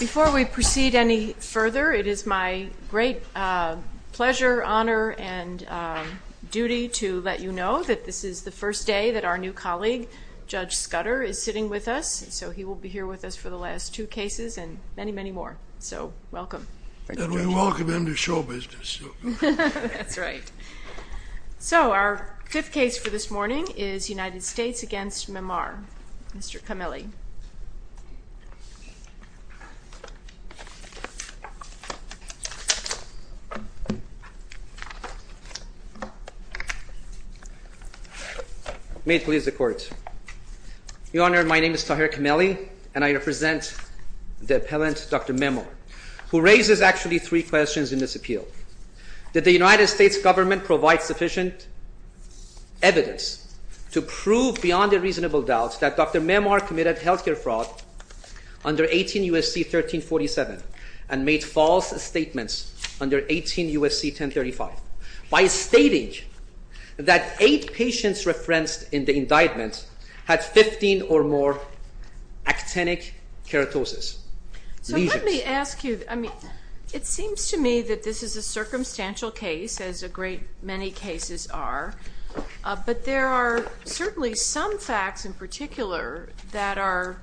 Before we proceed any further, it is my great pleasure, honor, and duty to let you know that this is the first day that our new colleague, Judge Scudder, is sitting with us. So he will be here with us for the last two cases and many, many more. So, welcome. And we welcome him to show business. That's right. So, our fifth case for this morning is United States v. Omeed Memar. Mr. Kameli. May it please the Court. Your Honor, my name is Tahir Kameli and I represent the appellant, Dr. Memo, who raises actually three questions in this appeal. Did the United States government provide sufficient evidence to prove beyond a reasonable doubt that Dr. Memar committed health care fraud under 18 U.S.C. 1347 and made false statements under 18 U.S.C. 1035 by stating that eight patients referenced in the indictment had 15 or more actinic keratosis? So let me ask you, I mean, it seems to me that this is a circumstantial case, as a great many cases are, but there are certainly some facts in particular that are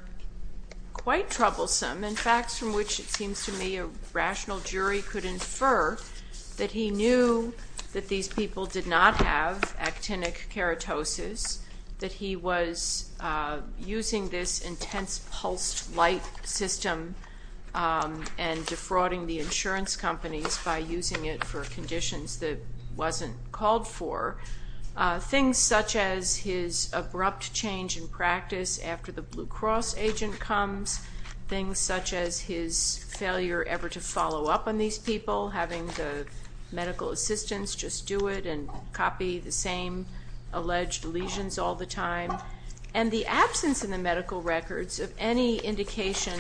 quite troublesome and facts from which it seems to me a rational jury could infer that he knew that these people did not have actinic keratosis, that he was using this intense pulsed light system and defrauding the insurance companies by using it for conditions that wasn't called for, things such as his abrupt change in practice after the Blue Cross agent comes, things such as his failure ever to follow up on these people, having the medical assistants just do it and copy the same alleged lesions all the time, and the absence in the medical records of any indication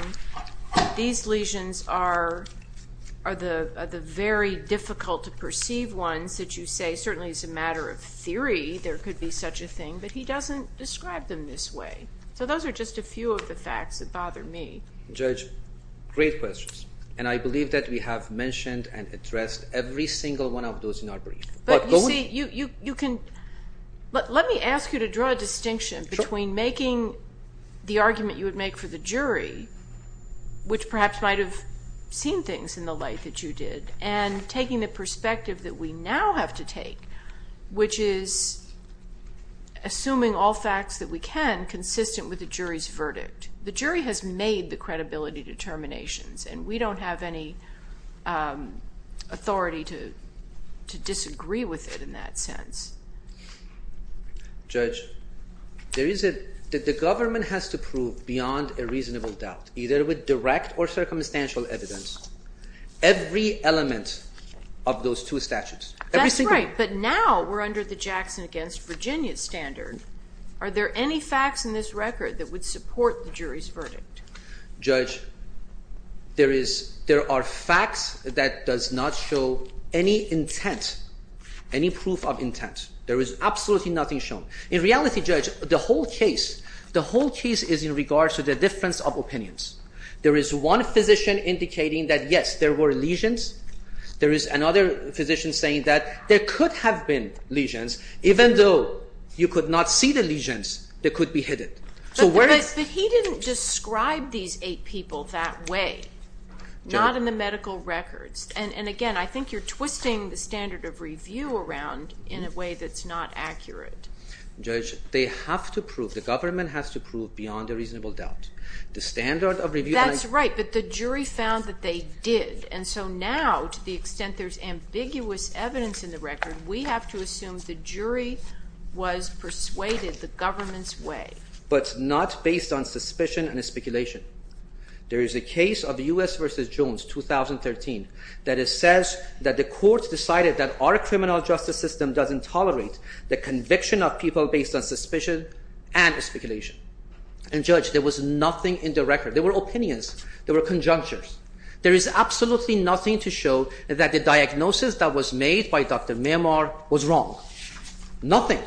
that these lesions are the very difficult to perceive ones that you say certainly is a matter of theory, there could be such a thing, but he doesn't describe them this way. So those are just a few of the facts that bother me. Judge, great questions, and I believe that we have mentioned and addressed every single one of those in our brief. But you see, you can, let me ask you to draw a distinction between making the argument you would make for the jury, which perhaps might have seen things in the light that you did, and taking the perspective that we now have to take, which is assuming all facts that we can consistent with the jury's verdict. The jury has made the credibility determinations, and we don't have any authority to disagree with it in that sense. Judge, there is a, the government has to prove beyond a reasonable doubt, either with direct or circumstantial evidence, every element of those two statutes. That's right, but now we're under the Jackson against Virginia standard. Are there any facts in this record that would support the jury's verdict? Judge, there is, there are facts that does not show any intent, any proof of intent. There is absolutely nothing shown. In reality, Judge, the whole case, the whole case is in regards to the difference of opinions. There is one physician indicating that, yes, there were lesions. There is another physician saying that there could have been lesions, even though you could not see the lesions that could be hidden. But he didn't describe these eight people that way, not in the medical records. And again, I think you're twisting the standard of review around in a way that's not accurate. Judge, they have to prove, the government has to prove beyond a reasonable doubt. The standard of review... Now, to the extent there's ambiguous evidence in the record, we have to assume the jury was persuaded the government's way. But not based on suspicion and speculation. There is a case of U.S. v. Jones, 2013, that it says that the court decided that our criminal justice system doesn't tolerate the conviction of people based on suspicion and speculation. And, Judge, there was nothing in the record. There were opinions. There were conjunctures. There is absolutely nothing to show that the diagnosis that was made by Dr. Mehmar was wrong. Nothing.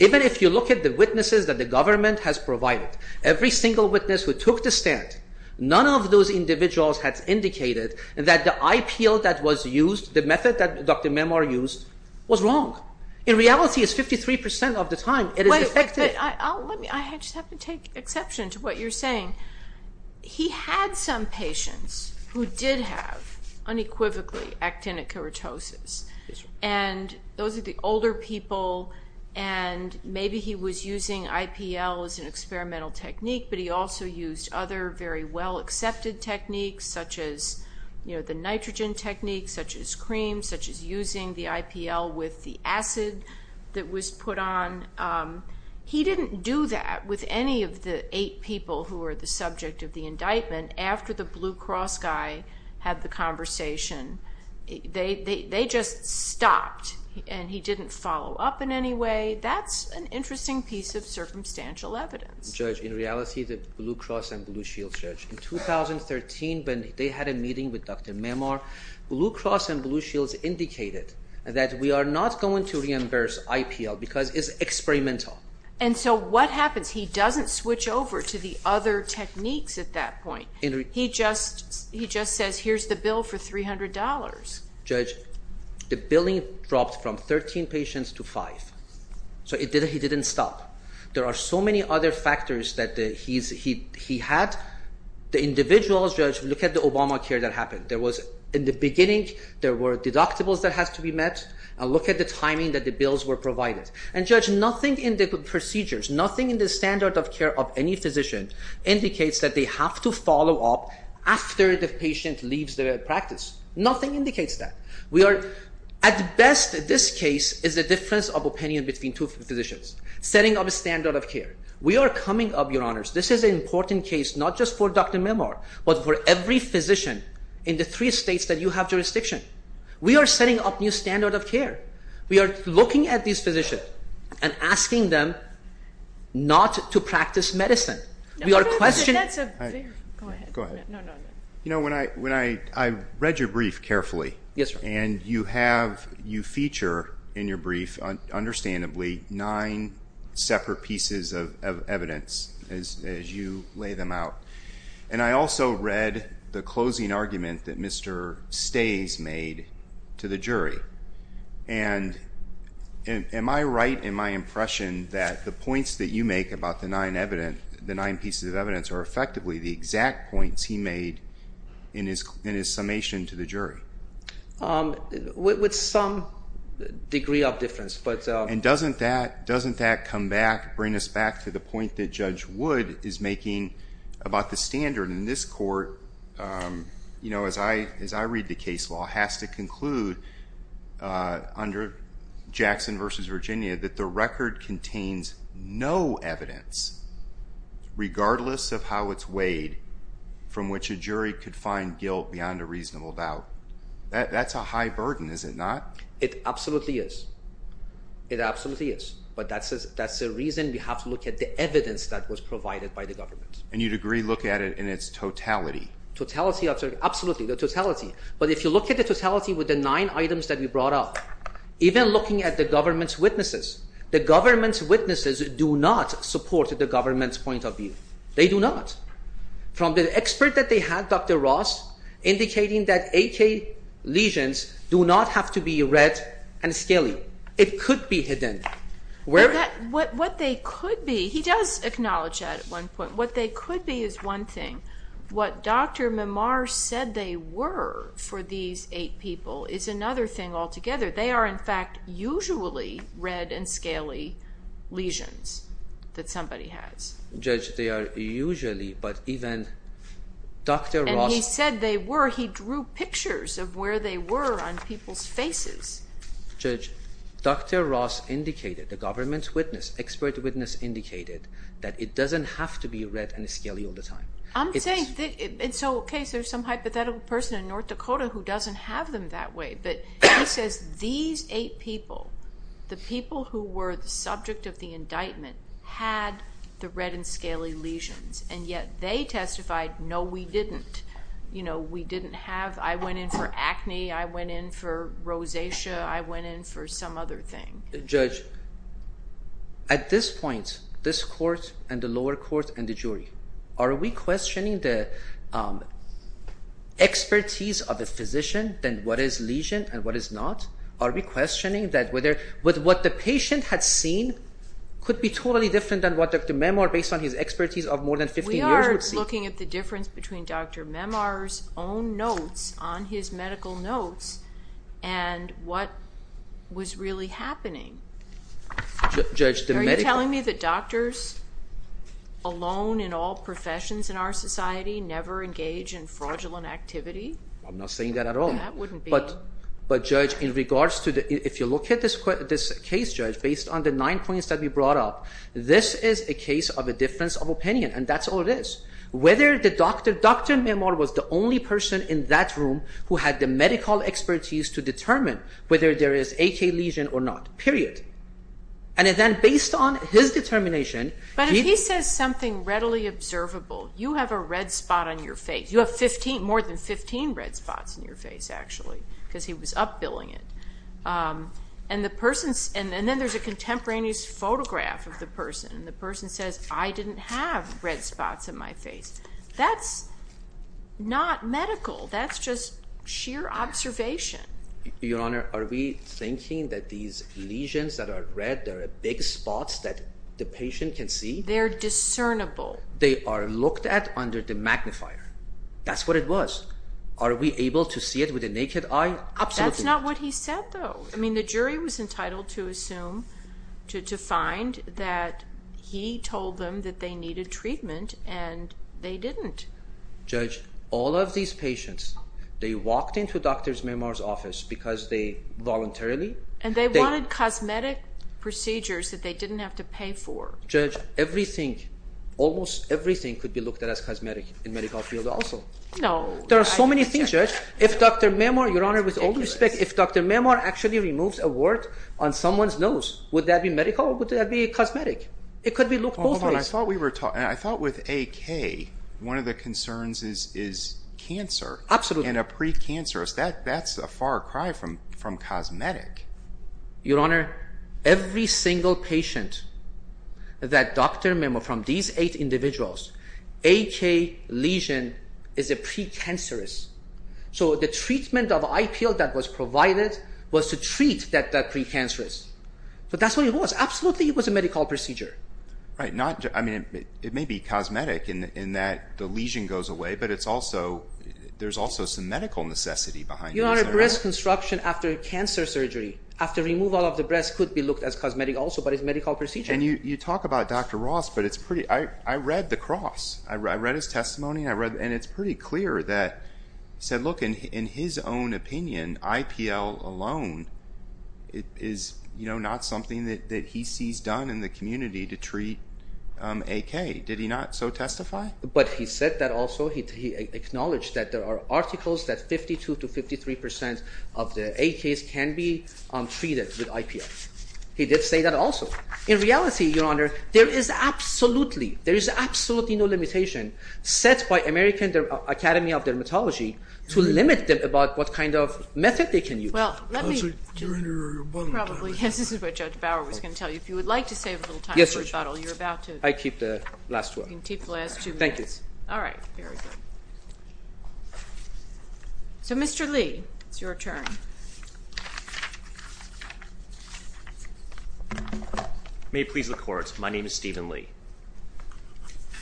Even if you look at the witnesses that the government has provided, every single witness who took the stand, none of those individuals had indicated that the IPL that was used, the method that Dr. Mehmar used, was wrong. In reality, it's 53% of the time it is effective. I just have to take exception to what you're saying. He had some patients who did have, unequivocally, actinic keratosis. And those are the older people, and maybe he was using IPL as an experimental technique, but he also used other very well-accepted techniques, such as the nitrogen technique, such as cream, such as using the IPL with the acid that was put on. He didn't do that with any of the eight people who were the subject of the indictment after the Blue Cross guy had the conversation. They just stopped, and he didn't follow up in any way. That's an interesting piece of circumstantial evidence. Judge, in reality, the Blue Cross and Blue Shields, Judge, in 2013, when they had a meeting with Dr. Mehmar, Blue Cross and Blue Shields indicated that we are not going to reimburse IPL because it's experimental. And so what happens? He doesn't switch over to the other techniques at that point. He just says, here's the bill for $300. Judge, the billing dropped from 13 patients to five. So he didn't stop. There are so many other factors that he had. The individuals, Judge, look at the Obamacare that happened. In the beginning, there were deductibles that had to be met. Look at the timing that the bills were provided. And, Judge, nothing in the procedures, nothing in the standard of care of any physician indicates that they have to follow up after the patient leaves the practice. Nothing indicates that. At best, this case is a difference of opinion between two physicians, setting up a standard of care. We are coming up, Your Honors, this is an important case not just for Dr. Mehmar, but for every physician in the three states that you have jurisdiction. We are setting up a new standard of care. We are looking at these physicians and asking them not to practice medicine. We are questioning. Go ahead. You know, I read your brief carefully. Yes, sir. And you feature in your brief, understandably, nine separate pieces of evidence as you lay them out. And I also read the closing argument that Mr. Stays made to the jury. And am I right in my impression that the points that you make about the nine pieces of evidence are effectively the exact points he made in his summation to the jury? With some degree of difference. And doesn't that come back, bring us back to the point that Judge Wood is making about the standard? In this court, you know, as I read the case law, it has to conclude under Jackson v. Virginia that the record contains no evidence, regardless of how it's weighed, from which a jury could find guilt beyond a reasonable doubt. That's a high burden, is it not? It absolutely is. It absolutely is. But that's the reason we have to look at the evidence that was provided by the government. And you'd agree, look at it in its totality. Totality, absolutely, the totality. But if you look at the totality with the nine items that we brought up, even looking at the government's witnesses, the government's witnesses do not support the government's point of view. They do not. From the expert that they had, Dr. Ross, indicating that AK lesions do not have to be red and scaly. It could be hidden. What they could be, he does acknowledge that at one point, what they could be is one thing. What Dr. Mimar said they were for these eight people is another thing altogether. They are, in fact, usually red and scaly lesions that somebody has. Judge, they are usually, but even Dr. Ross. And he said they were. He drew pictures of where they were on people's faces. Judge, Dr. Ross indicated, the government's witness, expert witness, indicated that it doesn't have to be red and scaly all the time. I'm saying it's okay. There's some hypothetical person in North Dakota who doesn't have them that way. But he says these eight people, the people who were the subject of the indictment had the red and scaly lesions, and yet they testified, no, we didn't. You know, we didn't have, I went in for acne, I went in for rosacea, I went in for some other thing. Judge, at this point, this court and the lower court and the jury, are we questioning the expertise of the physician, then what is lesion and what is not? Are we questioning that with what the patient had seen could be totally different than what Dr. Memar, based on his expertise of more than 15 years, would see? We are looking at the difference between Dr. Memar's own notes on his medical notes and what was really happening. Judge, the medical. Are you telling me that doctors alone in all professions in our society never engage in fraudulent activity? I'm not saying that at all. That wouldn't be. But, Judge, in regards to the, if you look at this case, Judge, based on the nine points that we brought up, this is a case of a difference of opinion, and that's all it is. Whether the doctor, Dr. Memar was the only person in that room who had the medical expertise to determine whether there is AK lesion or not. Period. And then based on his determination. But if he says something readily observable, you have a red spot on your face. You have more than 15 red spots on your face, actually, because he was up billing it. And then there's a contemporaneous photograph of the person, and the person says, I didn't have red spots on my face. That's not medical. That's just sheer observation. Your Honor, are we thinking that these lesions that are red, they're big spots that the patient can see? They're discernible. They are looked at under the magnifier. That's what it was. Are we able to see it with the naked eye? Absolutely not. That's not what he said, though. I mean, the jury was entitled to assume, to find, that he told them that they needed treatment, and they didn't. Judge, all of these patients, they walked into Dr. Memar's office because they voluntarily. And they wanted cosmetic procedures that they didn't have to pay for. Judge, everything, almost everything could be looked at as cosmetic in medical field also. No. There are so many things, Judge. If Dr. Memar, Your Honor, with all due respect, if Dr. Memar actually removes a wart on someone's nose, would that be medical or would that be cosmetic? It could be looked both ways. I thought with AK, one of the concerns is cancer. Absolutely. And a precancerous, that's a far cry from cosmetic. Your Honor, every single patient that Dr. Memar, from these eight individuals, AK lesion is a precancerous. So the treatment of eye peel that was provided was to treat that precancerous. But that's what it was. Absolutely, it was a medical procedure. Right. I mean, it may be cosmetic in that the lesion goes away, but it's also, there's also some medical necessity behind it. After breast construction, after cancer surgery, after removal of the breast could be looked at as cosmetic also, but it's a medical procedure. And you talk about Dr. Ross, but I read the cross. I read his testimony, and it's pretty clear that he said, look, in his own opinion, eye peel alone is not something that he sees done in the community to treat AK. Did he not so testify? But he said that also he acknowledged that there are articles that 52 to 53 percent of the AKs can be treated with eye peel. He did say that also. In reality, Your Honor, there is absolutely, there is absolutely no limitation set by American Academy of Dermatology to limit them about what kind of method they can use. Well, let me. You're in your rebuttal. Probably, yes, this is what Judge Bauer was going to tell you. If you would like to save a little time for rebuttal, you're about to. Yes, Your Honor. I keep the last two up. You can keep the last two minutes. Thank you. All right, very good. So, Mr. Lee, it's your turn. May it please the Court, my name is Stephen Lee.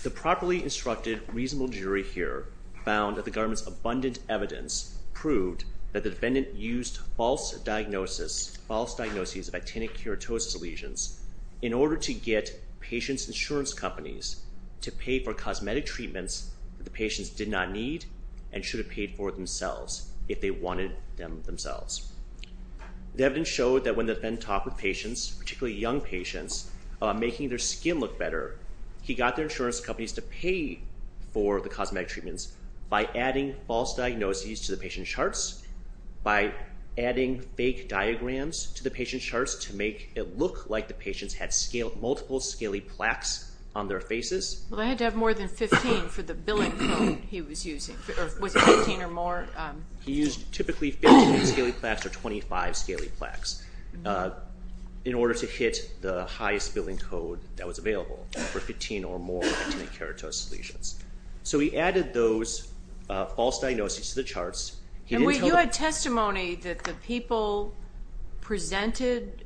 The properly instructed reasonable jury here found that the government's abundant evidence proved that the defendant used false diagnosis, false diagnoses of itinic keratosis lesions, in order to get patients' insurance companies to pay for cosmetic treatments that the patients did not need and should have paid for themselves if they wanted them themselves. The evidence showed that when the defendant talked with patients, particularly young patients, about making their skin look better, he got their insurance companies to pay for the cosmetic treatments by adding false diagnoses to the patient charts, by adding fake diagrams to the patient charts to make it look like the patients had multiple scaly plaques on their faces. Well, they had to have more than 15 for the billing code he was using. Was it 15 or more? He used typically 15 scaly plaques or 25 scaly plaques in order to hit the highest billing code that was available for 15 or more itinic keratosis lesions. So he added those false diagnoses to the charts. You had testimony that the people presented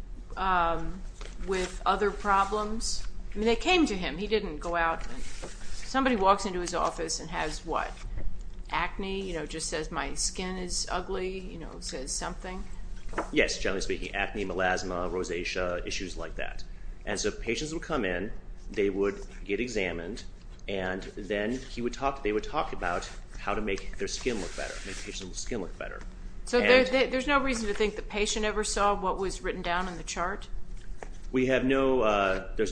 with other problems. I mean, they came to him. He didn't go out. Somebody walks into his office and has, what, acne, just says my skin is ugly, says something? Yes, generally speaking, acne, melasma, rosacea, issues like that. And so patients would come in. They would get examined. And then they would talk about how to make their skin look better. So there's no reason to think the patient ever saw what was written down in the chart? There's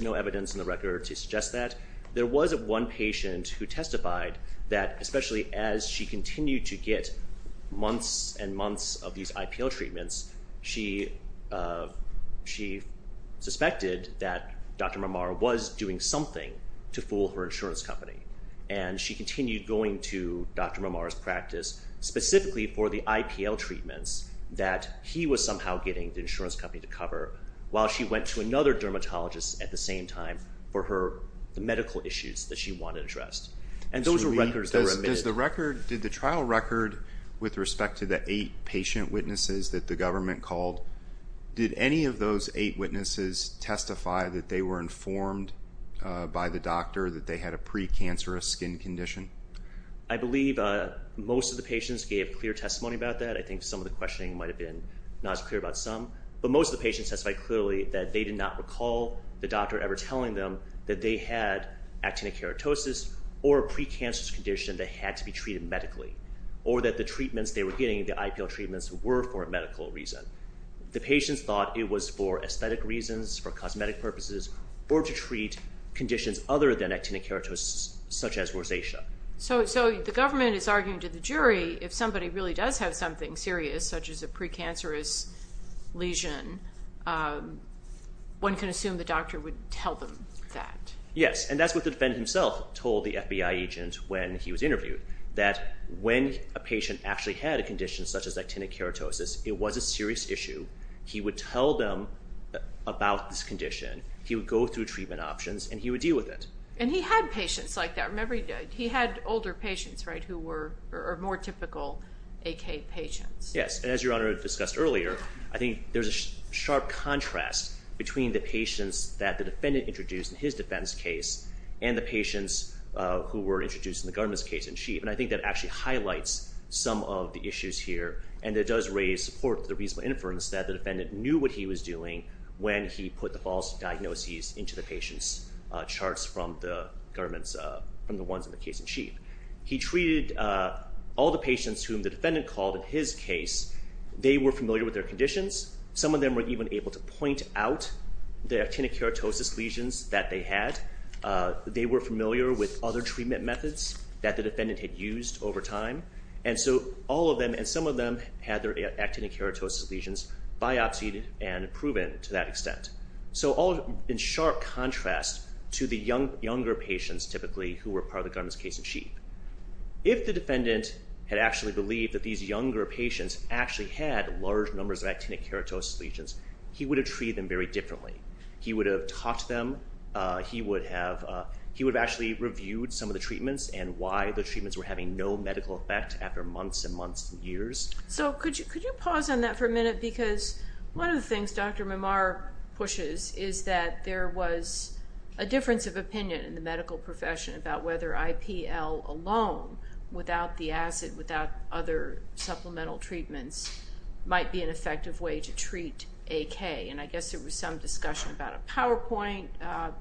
no evidence in the record to suggest that. There was one patient who testified that especially as she continued to get months and months of these IPL treatments, she suspected that Dr. Marmar was doing something to fool her insurance company. And she continued going to Dr. Marmar's practice specifically for the IPL treatments that he was somehow getting the insurance company to cover while she went to another dermatologist at the same time for the medical issues that she wanted addressed. And those were records that were admitted. Did the trial record with respect to the eight patient witnesses that the government called, did any of those eight witnesses testify that they were informed by the doctor that they had a precancerous skin condition? I believe most of the patients gave clear testimony about that. I think some of the questioning might have been not as clear about some. But most of the patients testified clearly that they did not recall the doctor ever telling them that they had actinic keratosis or a precancerous condition that had to be treated medically or that the treatments they were getting, the IPL treatments, were for a medical reason. The patients thought it was for aesthetic reasons, for cosmetic purposes, or to treat conditions other than actinic keratosis, such as rosacea. So the government is arguing to the jury if somebody really does have something serious, such as a precancerous lesion, one can assume the doctor would tell them that. Yes. And that's what the defendant himself told the FBI agent when he was interviewed, that when a patient actually had a condition such as actinic keratosis, it was a serious issue, he would tell them about this condition, he would go through treatment options, and he would deal with it. And he had patients like that. Remember, he had older patients, right, who were more typical AK patients. Yes. And as Your Honor discussed earlier, I think there's a sharp contrast between the patients that the defendant introduced in his defense case and the patients who were introduced in the government's case in chief, and I think that actually highlights some of the issues here, and it does raise support for the reasonable inference that the defendant knew what he was doing when he put the false diagnoses into the patient's charts from the ones in the case in chief. He treated all the patients whom the defendant called in his case. They were familiar with their conditions. Some of them were even able to point out the actinic keratosis lesions that they had. They were familiar with other treatment methods that the defendant had used over time, and so all of them, and some of them, had their actinic keratosis lesions biopsied and proven to that extent. So all in sharp contrast to the younger patients, typically, who were part of the government's case in chief. If the defendant had actually believed that these younger patients actually had large numbers of actinic keratosis lesions, he would have treated them very differently. He would have taught them. He would have actually reviewed some of the treatments and why the treatments were having no medical effect after months and months and years. So could you pause on that for a minute, because one of the things Dr. Mamar pushes is that there was a difference of opinion in the medical profession about whether IPL alone, without the acid, without other supplemental treatments, might be an effective way to treat AK, and I guess there was some discussion about a PowerPoint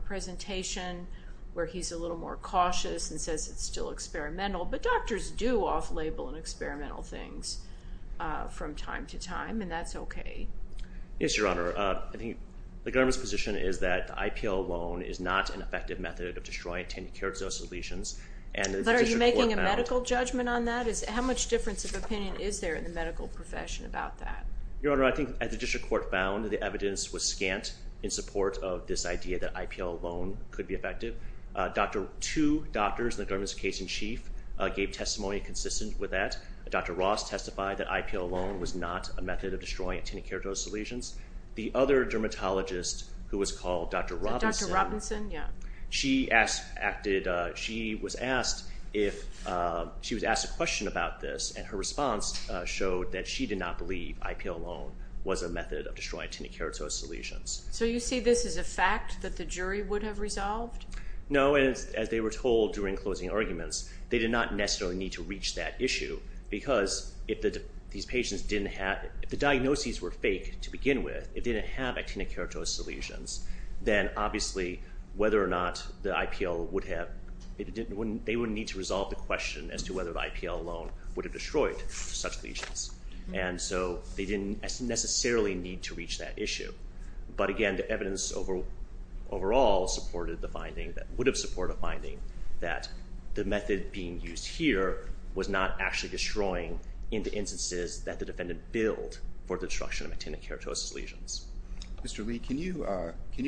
presentation where he's a little more cautious and says it's still experimental, but doctors do off-label and experimental things from time to time, and that's okay. Yes, Your Honor. I think the government's position is that IPL alone is not an effective method of destroying actinic keratosis lesions, and the district court found... But are you making a medical judgment on that? How much difference of opinion is there in the medical profession about that? Your Honor, I think as the district court found, the evidence was scant in support of this idea that IPL alone could be effective. Two doctors in the government's case in chief gave testimony consistent with that. Dr. Ross testified that IPL alone was not a method of destroying actinic keratosis lesions. The other dermatologist who was called Dr. Robinson... Dr. Robinson, yeah. She was asked a question about this, and her response showed that she did not believe that IPL alone was a method of destroying actinic keratosis lesions. So you see this as a fact that the jury would have resolved? No, and as they were told during closing arguments, they did not necessarily need to reach that issue because if these patients didn't have...if the diagnoses were fake to begin with, if they didn't have actinic keratosis lesions, then obviously whether or not the IPL would have... they would need to resolve the question as to whether the IPL alone would have destroyed such lesions. And so they didn't necessarily need to reach that issue. But again, the evidence overall supported the finding, would have supported the finding, that the method being used here was not actually destroying in the instances that the defendant billed for the destruction of actinic keratosis lesions. Mr. Lee, can you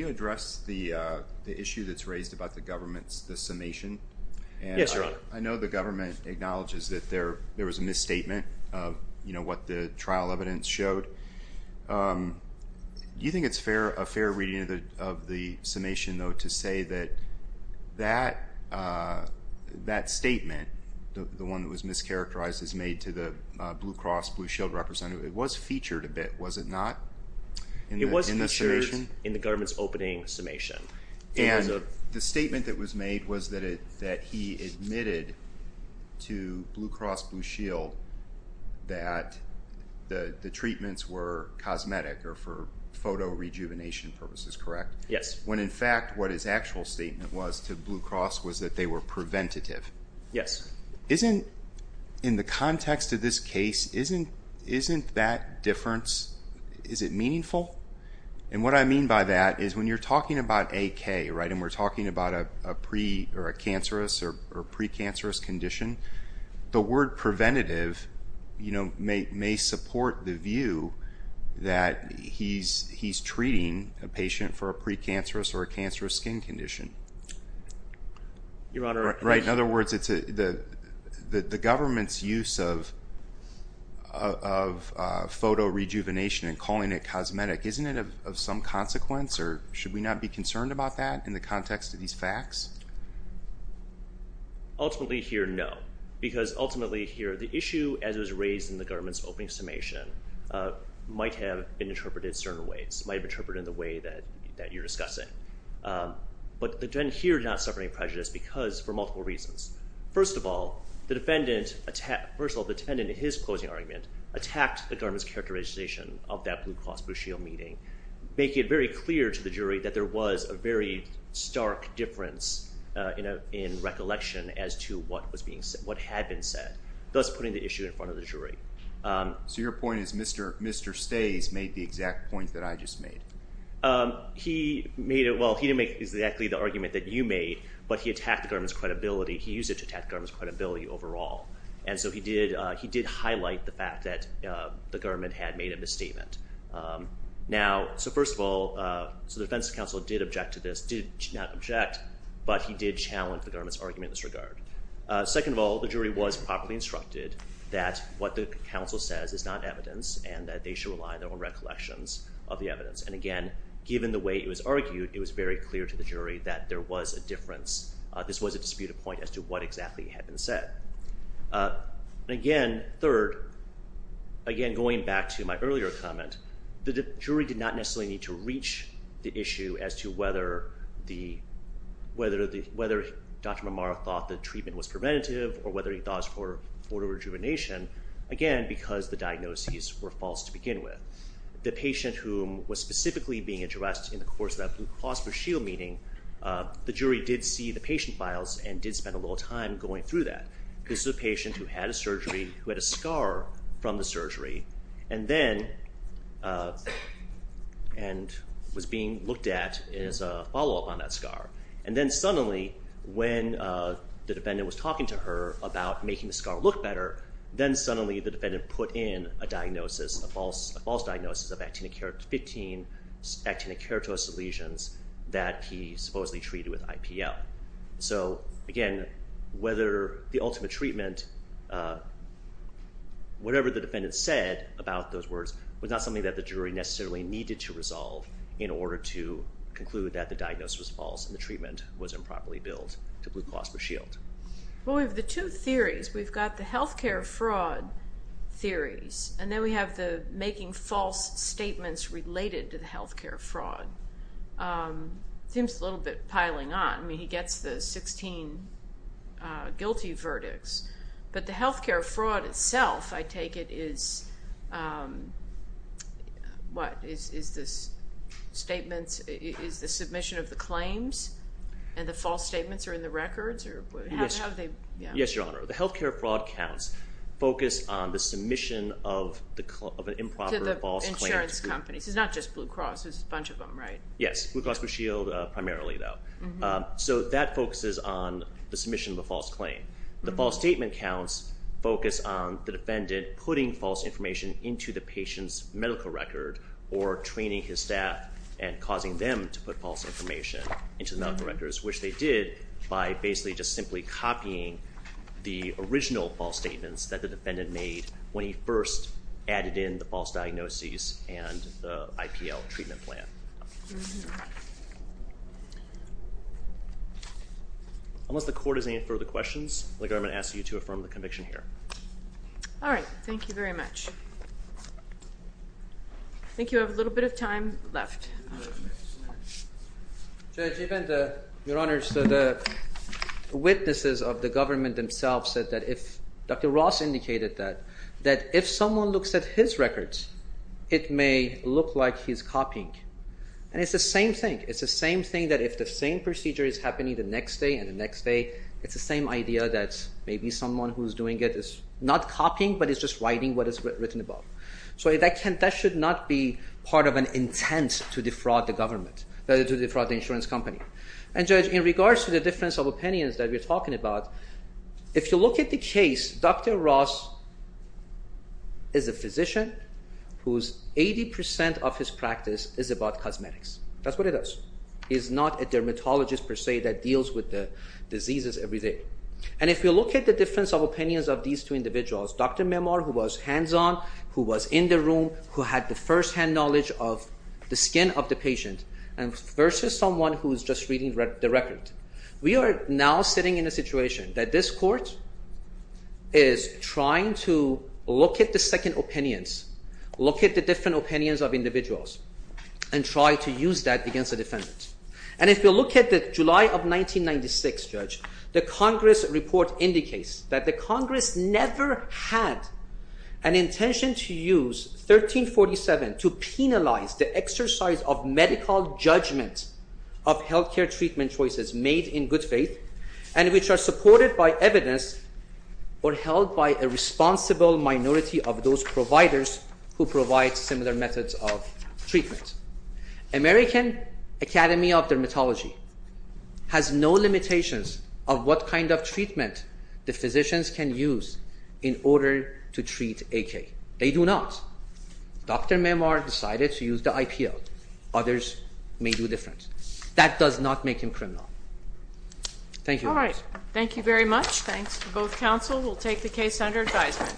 address the issue that's raised about the government's summation? Yes, Your Honor. I know the government acknowledges that there was a misstatement of what the trial evidence showed. Do you think it's a fair reading of the summation, though, to say that that statement, the one that was mischaracterized as made to the Blue Cross Blue Shield representative, it was featured a bit, was it not? It was featured in the government's opening summation. And the statement that was made was that he admitted to Blue Cross Blue Shield that the treatments were cosmetic or for photo rejuvenation purposes, correct? Yes. When in fact what his actual statement was to Blue Cross was that they were preventative. Yes. Isn't, in the context of this case, isn't that difference, is it meaningful? And what I mean by that is when you're talking about AK, right, and we're talking about a cancerous or precancerous condition, the word preventative may support the view that he's treating a patient for a precancerous or a cancerous skin condition. Your Honor. Right. In other words, the government's use of photo rejuvenation and calling it cosmetic, isn't it of some consequence? Or should we not be concerned about that in the context of these facts? Ultimately here, no, because ultimately here the issue, as it was raised in the government's opening summation, might have been interpreted in certain ways, might have been interpreted in the way that you're discussing. But then here not suffering prejudice because for multiple reasons. First of all, the defendant, first of all, the defendant in his closing argument attacked the government's characterization of that Blue Cross Blue Shield meeting, making it very clear to the jury that there was a very stark difference in recollection as to what had been said, thus putting the issue in front of the jury. So your point is Mr. Stays made the exact point that I just made? He made it. Well, he didn't make exactly the argument that you made, but he attacked the government's credibility. He used it to attack the government's credibility overall. And so he did highlight the fact that the government had made a misstatement. Now, so first of all, so the defense counsel did object to this, did not object, but he did challenge the government's argument in this regard. Second of all, the jury was properly instructed that what the counsel says is not evidence and that they should rely on their own recollections of the evidence. And, again, given the way it was argued, it was very clear to the jury that there was a difference. This was a disputed point as to what exactly had been said. And, again, third, again, going back to my earlier comment, the jury did not necessarily need to reach the issue as to whether Dr. Marmara thought the treatment was preventative or whether he thought it was for photo rejuvenation, again, because the diagnoses were false to begin with. The patient whom was specifically being addressed in the course of that Blue Cross Blue Shield meeting, the jury did see the patient files and did spend a little time going through that. This was a patient who had a surgery, who had a scar from the surgery, and then was being looked at as a follow-up on that scar. And then, suddenly, when the defendant was talking to her about making the scar look better, then, suddenly, the defendant put in a diagnosis, a false diagnosis, of 15 actinic keratosis lesions that he supposedly treated with IPL. So, again, whether the ultimate treatment, whatever the defendant said about those words, was not something that the jury necessarily needed to resolve in order to conclude that the diagnosis was false and the treatment was improperly billed to Blue Cross Blue Shield. Well, we have the two theories. We've got the health care fraud theories, and then we have the making false statements related to the health care fraud. It seems a little bit piling on. I mean, he gets the 16 guilty verdicts, but the health care fraud itself, I take it, is what? Is the submission of the claims and the false statements are in the records? Yes, Your Honor. The health care fraud counts focus on the submission of an improper false claim. To the insurance companies. It's not just Blue Cross. There's a bunch of them, right? Yes. Blue Cross Blue Shield primarily, though. So that focuses on the submission of a false claim. The false statement counts focus on the defendant putting false information into the patient's medical record or training his staff and causing them to put false information into the medical records, which they did by basically just simply copying the original false statements that the defendant made when he first added in the false diagnoses and the IPL treatment plan. Unless the court has any further questions, the government asks you to affirm the conviction here. All right. Thank you very much. I think you have a little bit of time left. Your Honor, so the witnesses of the government themselves said that if Dr. Ross indicated that, that if someone looks at his records, it may look like he's copying. And it's the same thing. It's the same thing that if the same procedure is happening the next day and the next day, it's the same idea that maybe someone who's doing it is not copying but is just writing what is written about. So that should not be part of an intent to defraud the government, to defraud the insurance company. And Judge, in regards to the difference of opinions that we're talking about, if you look at the case, Dr. Ross is a physician whose 80 percent of his practice is about cosmetics. That's what it is. He's not a dermatologist per se that deals with the diseases every day. And if you look at the difference of opinions of these two individuals, Dr. Mehmar, who was hands-on, who was in the room, who had the firsthand knowledge of the skin of the patient, versus someone who is just reading the record, we are now sitting in a situation that this court is trying to look at the second opinions, look at the different opinions of individuals, and try to use that against a defendant. And if you look at the July of 1996, Judge, the Congress report indicates that the Congress never had an intention to use 1347 to penalize the exercise of medical judgment of health care treatment choices made in good faith and which are supported by evidence or held by a responsible minority of those providers who provide similar methods of treatment. American Academy of Dermatology has no limitations of what kind of treatment the physicians can use in order to treat AK. They do not. Dr. Mehmar decided to use the IPL. Others may do different. That does not make him criminal. Thank you. All right. Thank you very much. Thanks to both counsel. We'll take the case under advisement.